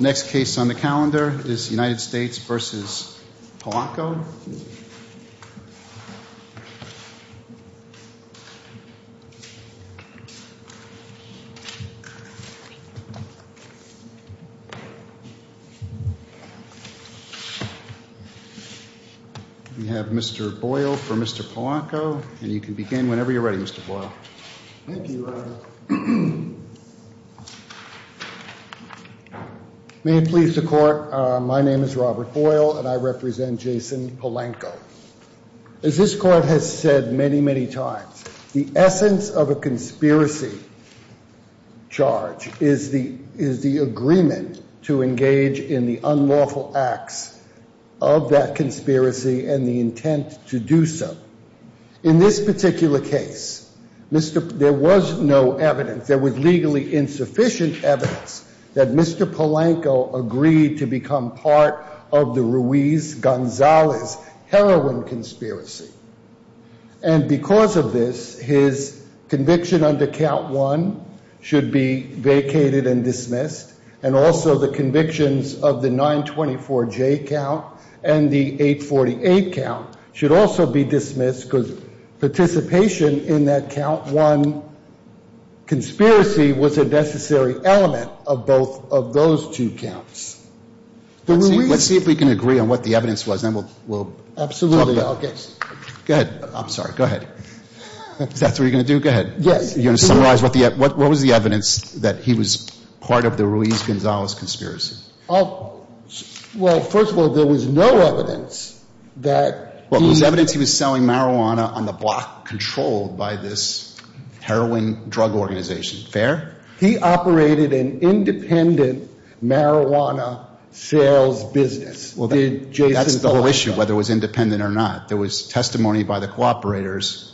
Next case on the calendar is United States v. Polanco. We have Mr. Boyle for Mr. Polanco, and you can begin whenever you're ready, Mr. Boyle. Thank you, Your Honor. May it please the Court, my name is Robert Boyle, and I represent Jason Polanco. As this Court has said many, many times, the essence of a conspiracy charge is the agreement to engage in the unlawful acts of that conspiracy and the intent to do so. In this particular case, there was no evidence, there was legally insufficient evidence that Mr. Polanco agreed to become part of the Ruiz-Gonzalez heroin conspiracy. And because of this, his conviction under count one should be vacated and dismissed, and also the convictions of the 924J count and the 848 count should also be dismissed because participation in that count one conspiracy was a necessary element of both of those two counts. Let's see if we can agree on what the evidence was, then we'll talk about it. Absolutely. Go ahead. I'm sorry. Go ahead. Is that what you're going to do? Go ahead. Yes. You're going to summarize what was the evidence that he was part of the Ruiz-Gonzalez conspiracy? Well, first of all, there was no evidence that he Well, there was evidence he was selling marijuana on the block controlled by this heroin drug organization. Fair? He operated an independent marijuana sales business. That's the whole issue, whether it was independent or not. There was testimony by the cooperators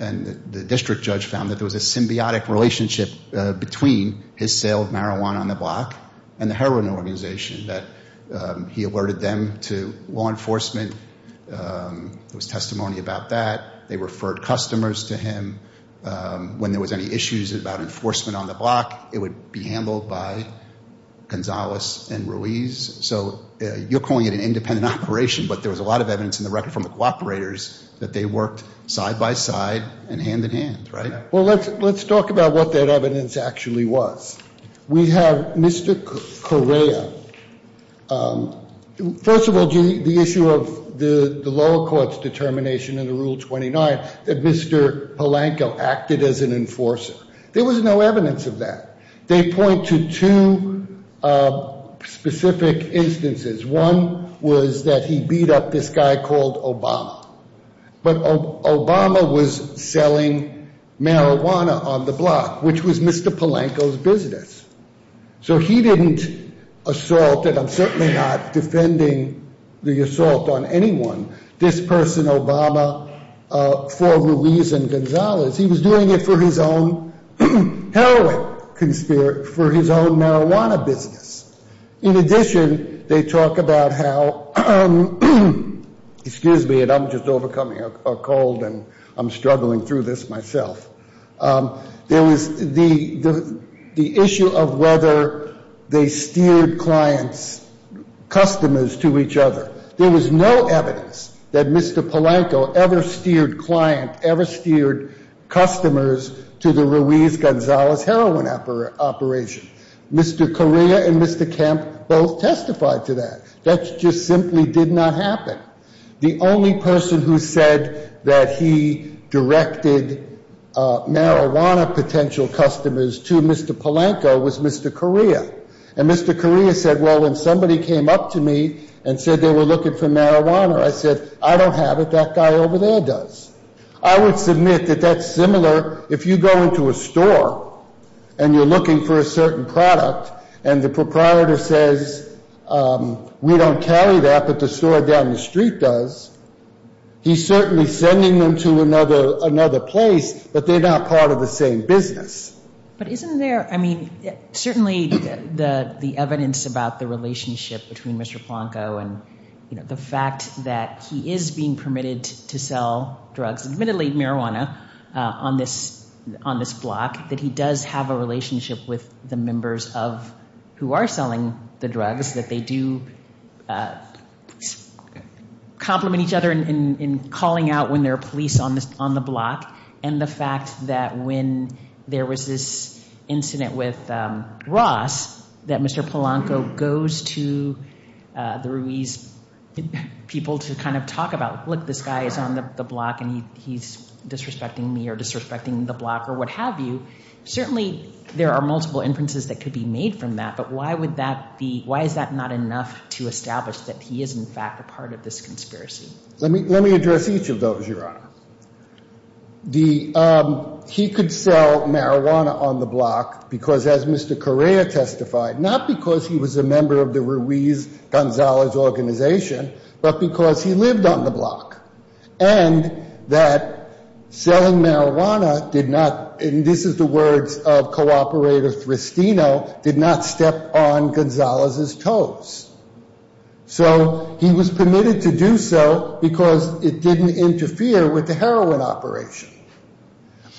and the district judge found that there was a symbiotic relationship between his sale of marijuana on the block and the heroin organization, that he alerted them to law enforcement. There was testimony about that. They referred customers to him when there was any issues about enforcement on the block. It would be handled by Gonzalez and Ruiz. So you're calling it an independent operation, but there was a lot of evidence in the record from the cooperators that they worked side by side and hand in hand. Right. Well, let's let's talk about what that evidence actually was. We have Mr. Correa. First of all, the issue of the lower court's determination in the Rule 29 that Mr. Polanco acted as an enforcer. There was no evidence of that. They point to two specific instances. One was that he beat up this guy called Obama. But Obama was selling marijuana on the block, which was Mr. Polanco's business. So he didn't assault, and I'm certainly not defending the assault on anyone, this person, Obama, for Ruiz and Gonzalez. He was doing it for his own heroin, for his own marijuana business. In addition, they talk about how, excuse me, and I'm just overcoming a cold and I'm struggling through this myself. There was the issue of whether they steered clients, customers to each other. There was no evidence that Mr. Polanco ever steered client, ever steered customers to the Ruiz-Gonzalez heroin operation. Mr. Correa and Mr. Kemp both testified to that. That just simply did not happen. The only person who said that he directed marijuana potential customers to Mr. Polanco was Mr. Correa. And Mr. Correa said, well, when somebody came up to me and said they were looking for marijuana, I said, I don't have it. That guy over there does. I would submit that that's similar if you go into a store and you're looking for a certain product and the proprietor says we don't carry that, but the store down the street does, he's certainly sending them to another place, but they're not part of the same business. But isn't there, I mean, certainly the evidence about the relationship between Mr. Polanco and the fact that he is being permitted to sell drugs, admittedly marijuana, on this block, that he does have a relationship with the members of, who are selling the drugs, that they do complement each other in calling out when there are police on the block, and the fact that when there was this incident with Ross, that Mr. Polanco goes to the Ruiz people to kind of talk about, look, this guy is on the block and he's disrespecting me or disrespecting the block or what have you. Certainly there are multiple inferences that could be made from that, but why would that be, why is that not enough to establish that he is in fact a part of this conspiracy? Let me address each of those, Your Honor. He could sell marijuana on the block because, as Mr. Correa testified, not because he was a member of the Ruiz-Gonzalez organization, but because he lived on the block, and that selling marijuana did not, and this is the words of cooperator Tristino, did not step on Gonzalez's toes. So he was permitted to do so because it didn't interfere with the heroin operation.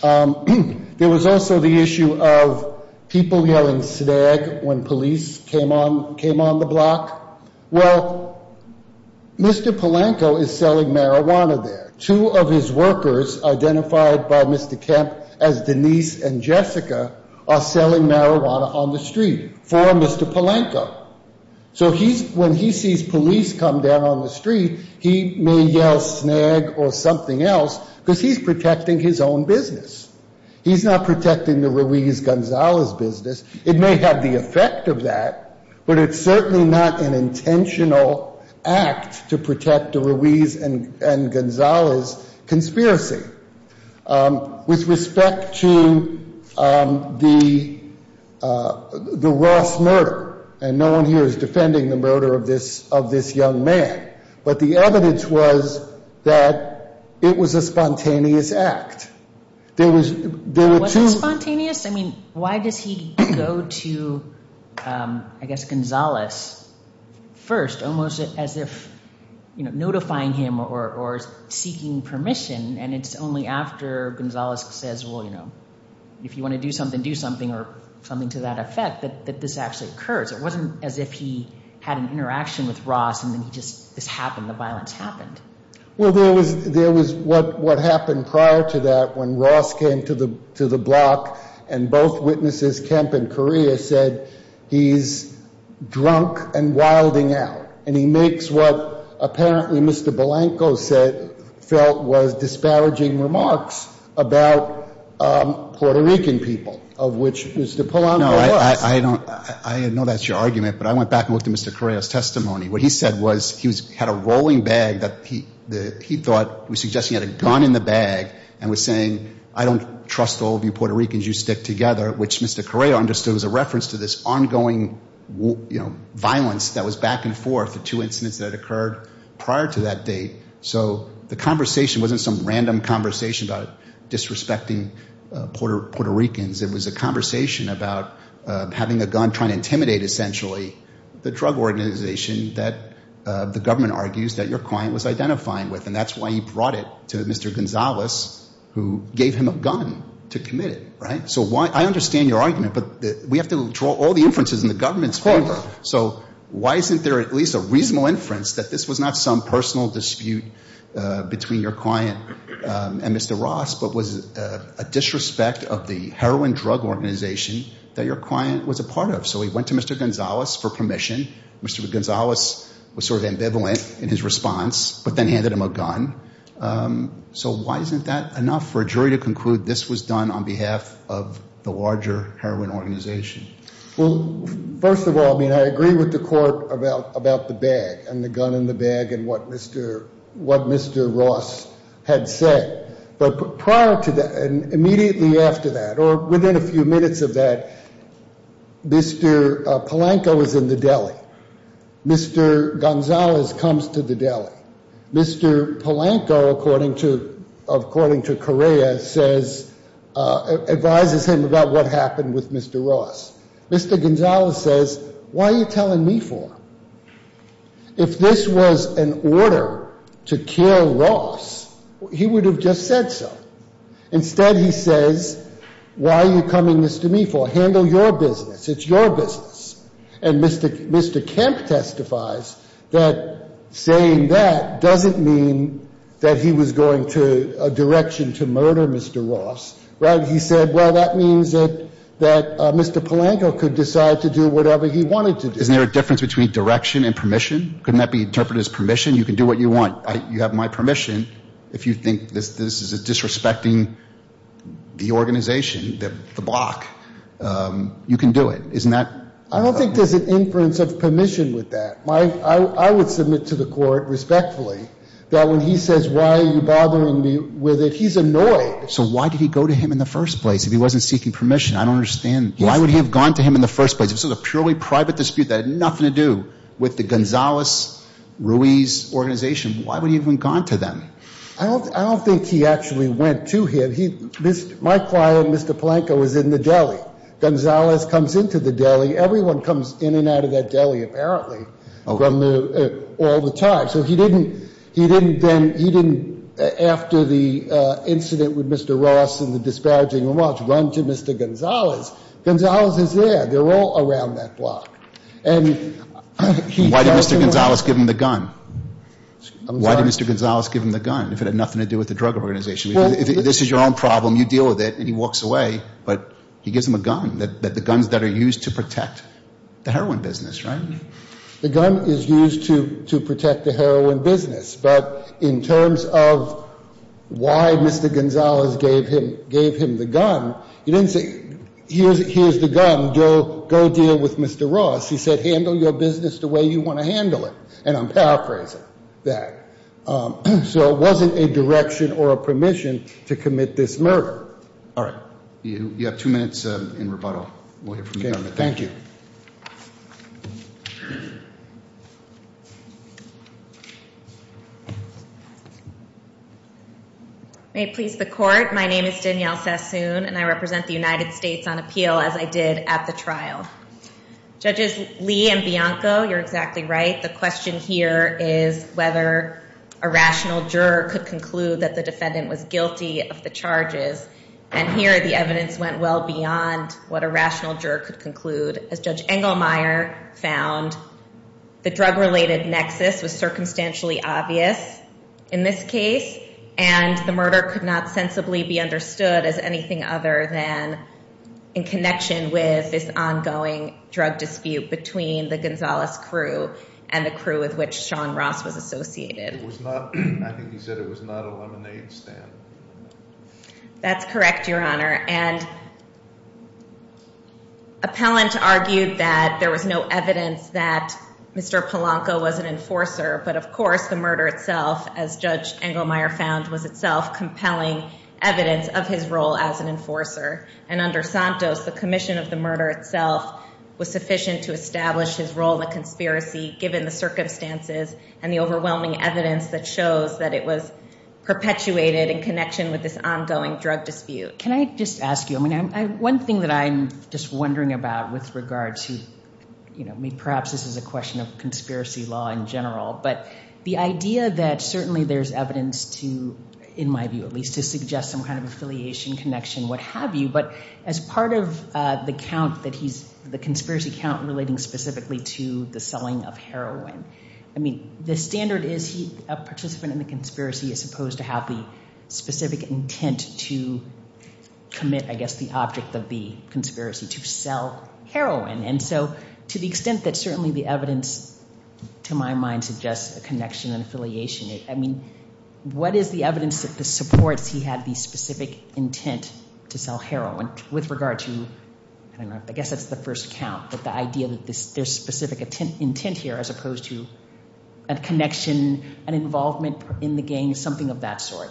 There was also the issue of people yelling snag when police came on the block. Well, Mr. Polanco is selling marijuana there. Two of his workers, identified by Mr. Kemp as Denise and Jessica, are selling marijuana on the street for Mr. Polanco. So when he sees police come down on the street, he may yell snag or something else because he's protecting his own business. He's not protecting the Ruiz-Gonzalez business. It may have the effect of that, but it's certainly not an intentional act to protect the Ruiz and Gonzalez conspiracy. With respect to the Ross murder, and no one here is defending the murder of this young man, but the evidence was that it was a spontaneous act. There were two- Was it spontaneous? I mean, why does he go to, I guess, Gonzalez first, almost as if notifying him or seeking permission, and it's only after Gonzalez says, well, you know, if you want to do something, do something, or something to that effect, that this actually occurs. It wasn't as if he had an interaction with Ross and then he just, this happened, the violence happened. Well, there was what happened prior to that when Ross came to the block and both witnesses, Kemp and Correa, said he's drunk and wilding out, and he makes what apparently Mr. Polanco felt was disparaging remarks about Puerto Rican people, of which Mr. Polanco was. No, I know that's your argument, but I went back and looked at Mr. Correa's testimony. What he said was he had a rolling bag that he thought, he was suggesting he had a gun in the bag and was saying, I don't trust all of you Puerto Ricans, you stick together, which Mr. Correa understood was a reference to this ongoing, you know, violence that was back and forth, the two incidents that occurred prior to that date. So the conversation wasn't some random conversation about disrespecting Puerto Ricans. It was a conversation about having a gun, trying to intimidate essentially the drug organization that the government argues that your client was identifying with, and that's why he brought it to Mr. Gonzalez, who gave him a gun to commit it, right? So I understand your argument, but we have to draw all the inferences in the government's favor. So why isn't there at least a reasonable inference that this was not some personal dispute between your client and Mr. Ross, but was a disrespect of the heroin drug organization that your client was a part of? So he went to Mr. Gonzalez for permission. Mr. Gonzalez was sort of ambivalent in his response, but then handed him a gun. So why isn't that enough for a jury to conclude this was done on behalf of the larger heroin organization? Well, first of all, I mean, I agree with the court about the bag and the gun in the bag and what Mr. Ross had said. But prior to that, and immediately after that, or within a few minutes of that, Mr. Polanco is in the deli. Mr. Gonzalez comes to the deli. Mr. Polanco, according to Correa, advises him about what happened with Mr. Ross. Mr. Gonzalez says, why are you telling me for? If this was an order to kill Ross, he would have just said so. Instead, he says, why are you coming to me for? Handle your business. It's your business. And Mr. Kemp testifies that saying that doesn't mean that he was going to a direction to murder Mr. Ross. Right? He said, well, that means that Mr. Polanco could decide to do whatever he wanted to do. Isn't there a difference between direction and permission? Couldn't that be interpreted as permission? You can do what you want. You have my permission. If you think this is disrespecting the organization, the block, you can do it. I don't think there's an inference of permission with that. I would submit to the court, respectfully, that when he says, why are you bothering me with it, he's annoyed. So why did he go to him in the first place if he wasn't seeking permission? I don't understand. Why would he have gone to him in the first place? It's a purely private dispute that had nothing to do with the Gonzales-Ruiz organization. Why would he have gone to them? I don't think he actually went to him. My client, Mr. Polanco, was in the deli. Gonzales comes into the deli. Everyone comes in and out of that deli, apparently, all the time. So he didn't then, after the incident with Mr. Ross and the disparaging remarks, run to Mr. Gonzales. Gonzales is there. They're all around that block. And he tells him... Why did Mr. Gonzales give him the gun? Why did Mr. Gonzales give him the gun if it had nothing to do with the drug organization? This is your own problem. You deal with it. And he walks away. But he gives him a gun, the guns that are used to protect the heroin business, right? The gun is used to protect the heroin business. But in terms of why Mr. Gonzales gave him the gun, he didn't say... Here's the gun. Go deal with Mr. Ross. He said, handle your business the way you want to handle it. And I'm paraphrasing that. So it wasn't a direction or a permission to commit this murder. All right. You have two minutes in rebuttal. Thank you. May it please the court, my name is Danielle Sassoon and I represent the United States on appeal as I did at the trial. Judges Lee and Bianco, you're exactly right. The question here is whether a rational juror could conclude that the defendant was guilty of the charges. And here the evidence went well beyond what a rational juror could conclude. As Judge Engelmeyer found, the drug-related nexus was circumstantially obvious in this case. And the murder could not sensibly be understood as anything other than in connection with this ongoing drug dispute between the Gonzales crew and the crew with which Sean Ross was associated. I think he said it was not a lemonade stand. That's correct, Your Honor. And appellant argued that there was no evidence that Mr. Polanco was an enforcer. But, of course, the murder itself, as Judge Engelmeyer found, was itself compelling evidence of his role as an enforcer. And under Santos, the commission of the murder itself was sufficient to establish his role in the conspiracy given the circumstances and the overwhelming evidence that shows that it was perpetuated in connection with this case. And, of course, the murder itself, as Judge Engelmeyer found, was itself compelling evidence to establish his role in the conspiracy given the circumstances and the overwhelming evidence that shows that it was perpetuated in connection with this case. Can I just ask you, I mean, one thing that I'm just wondering about with regard to, you know, perhaps this is a question of conspiracy law in general. But the idea that certainly there's evidence to, in my view at least, to suggest some kind of affiliation, connection, what have you. But as part of the count that he's, the conspiracy count relating specifically to the selling of heroin. I mean, the standard is he, a participant in the conspiracy is supposed to have the specific intent to commit, I guess, the object of the conspiracy to sell heroin. And so to the extent that certainly the evidence, to my mind, suggests a connection and affiliation. I mean, what is the evidence that supports he had the specific intent to sell heroin with regard to, I don't know, I guess that's the first count. But the idea that there's specific intent here as opposed to a connection, an involvement in the gang, something of that sort.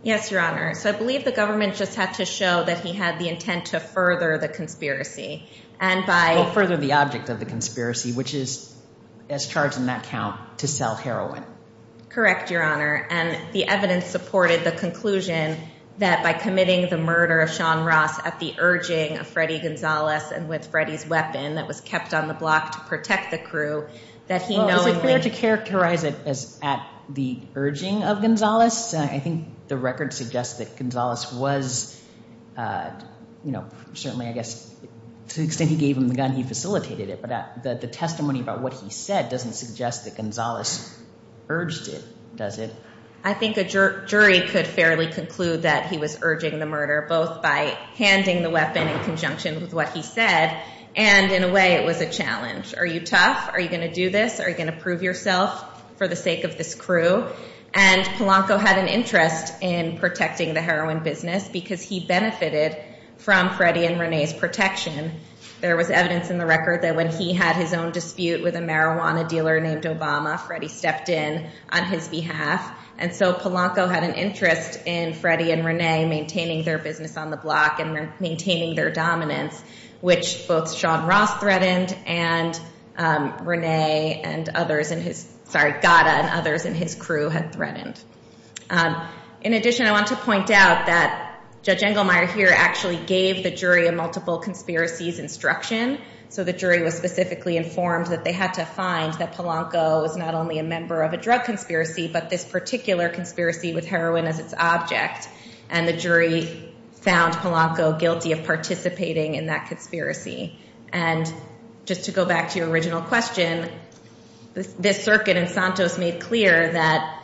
Yes, Your Honor. So I believe the government just had to show that he had the intent to further the conspiracy. Well, further the object of the conspiracy, which is, as charged in that count, to sell heroin. Correct, Your Honor. And the evidence supported the conclusion that by committing the murder of Sean Ross at the urging of Freddie Gonzalez and with Freddie's weapon, that was kept on the block to protect the crew, that he knowingly... Well, is it fair to characterize it as at the urging of Gonzalez? I think the record suggests that Gonzalez was, you know, certainly, I guess, to the extent he gave him the gun, he facilitated it. But the testimony about what he said doesn't suggest that Gonzalez urged it, does it? I think a jury could fairly conclude that he was urging the murder, both by handing the weapon in conjunction with what he said, and in a way it was a challenge. Are you tough? Are you going to do this? Are you going to prove yourself for the sake of this crew? And Polanco had an interest in protecting the heroin business because he benefited from Freddie and Renee's protection. There was evidence in the record that when he had his own dispute with a marijuana dealer named Obama, Freddie stepped in on his behalf. And so Polanco had an interest in Freddie and Renee maintaining their business on the block and maintaining their dominance, which both Sean Ross threatened and Renee and others in his... Sorry, Gada and others in his crew had threatened. In addition, I want to point out that Judge Engelmeyer here actually gave the jury a multiple conspiracies instruction. So the jury was specifically informed that they had to find that Polanco was not only a member of a drug conspiracy, but this particular conspiracy with heroin as its object. And the jury found Polanco guilty of participating in that conspiracy. And just to go back to your original question, this circuit in Santos made clear that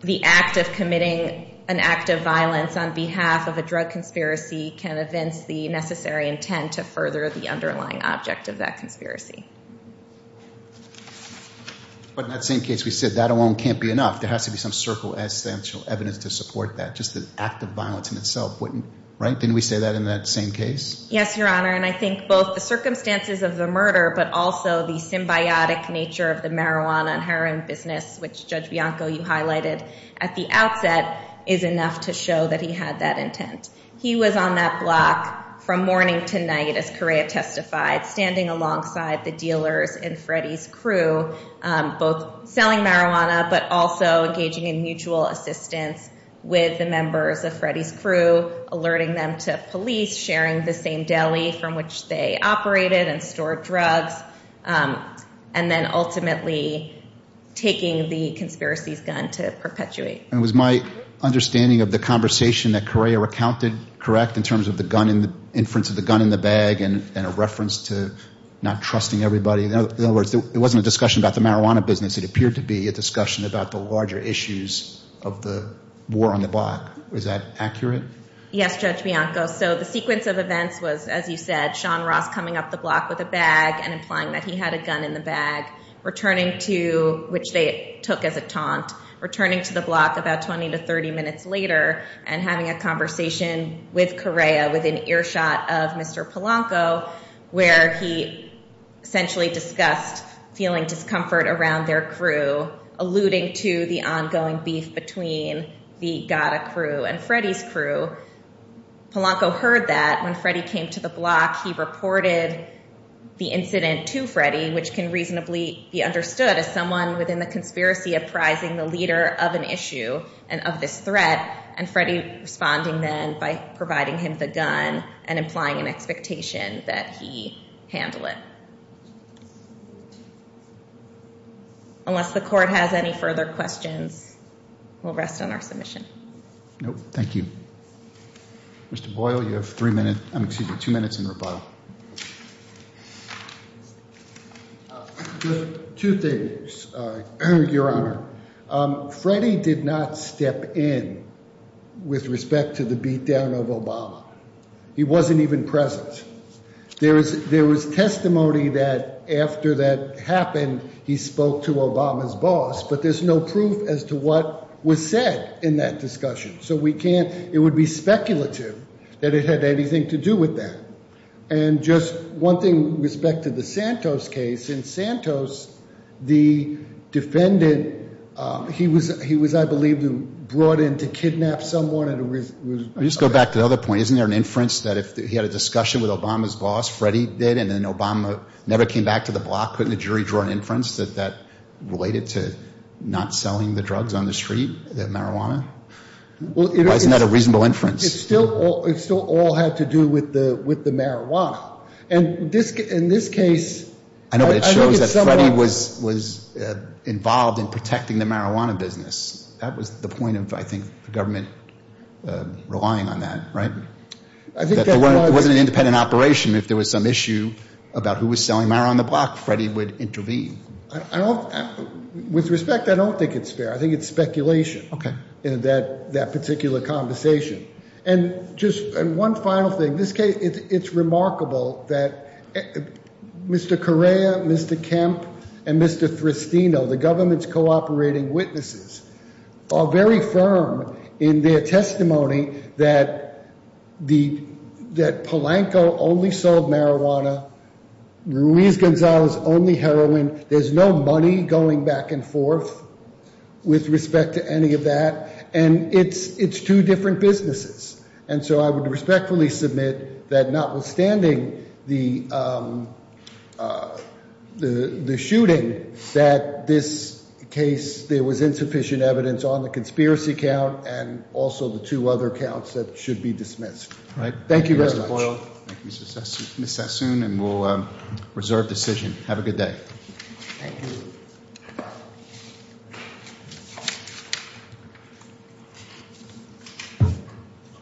the act of committing an act of violence on behalf of a drug conspiracy can evince the necessary intent to further the underlying object of that conspiracy. But in that same case, we said that alone can't be enough. There has to be some circumstantial evidence to support that. Just the act of violence in itself wouldn't... Right? Didn't we say that in that same case? Yes, Your Honor. And I think both the circumstances of the murder, but also the symbiotic nature of the marijuana and heroin business, which Judge Bianco, you highlighted at the outset, is enough to show that he had that intent. He was on that block from morning to night, as Correa testified, standing alongside the dealers in Freddie's crew, both selling marijuana, but also engaging in mutual assistance with the members of Freddie's crew, alerting them to police, sharing the same deli from which they operated and stored drugs, and then ultimately taking the conspiracies gun to perpetuate. And was my understanding of the conversation that Correa recounted correct in terms of the inference of the gun in the bag and a reference to not trusting everybody? In other words, it wasn't a discussion about the marijuana business. It appeared to be a discussion about the larger issues of the war on the block. Is that accurate? Yes, Judge Bianco. So the sequence of events was, as you said, Sean Ross coming up the block with a bag and implying that he had a gun in the bag, returning to, which they took as a taunt, returning to the block about 20 to 30 minutes later and having a conversation with Correa with an earshot of Mr. Polanco, where he essentially discussed feeling discomfort around their crew, alluding to the ongoing beef between the GATA crew and Freddie's crew. Polanco heard that. When Freddie came to the block, he reported the incident to Freddie, which can reasonably be understood as someone within the conspiracy apprising the leader of an issue and of this threat, and Freddie responding then by providing him the gun and implying an expectation that he handle it. Unless the court has any further questions, we'll rest on our submission. Thank you. Mr. Boyle, you have two minutes in rebuttal. Two things, Your Honor. Freddie did not step in with respect to the beatdown of Obama. He wasn't even present. There was testimony that after that happened, he spoke to Obama's boss, but there's no proof as to what was said in that discussion, so we can't, it would be speculative that it had anything to do with that. And just one thing with respect to the Santos case, in Santos, the defendant, he was, I believe, brought in to kidnap someone. I'll just go back to the other point. Isn't there an inference that if he had a discussion with Obama's boss, Freddie did, and then Obama never came back to the block, couldn't the jury draw an inference that that related to not selling the drugs on the street, the marijuana? Isn't that a reasonable inference? It still all had to do with the marijuana. And in this case... I know, but it shows that Freddie was involved in protecting the marijuana business. That was the point of, I think, the government relying on that, right? It wasn't an independent operation. If there was some issue about who was selling marijuana on the block, Freddie would intervene. With respect, I don't think it's fair. I think it's speculation in that particular conversation. And just one final thing. This case, it's remarkable that Mr. Correa, Mr. Kemp, and Mr. Tristino, the government's cooperating witnesses, are very firm in their testimony that Polanco only sold marijuana. Ruiz-Gonzalez only heroin. There's no money going back and forth with respect to any of that. And it's two different businesses. And so I would respectfully submit that notwithstanding the shooting, that this case, there was insufficient evidence on the conspiracy count and also the two other counts that should be dismissed. Thank you very much. Thank you, Mr. Boyle. Thank you, Ms. Sassoon. And we'll reserve decision. Have a good day.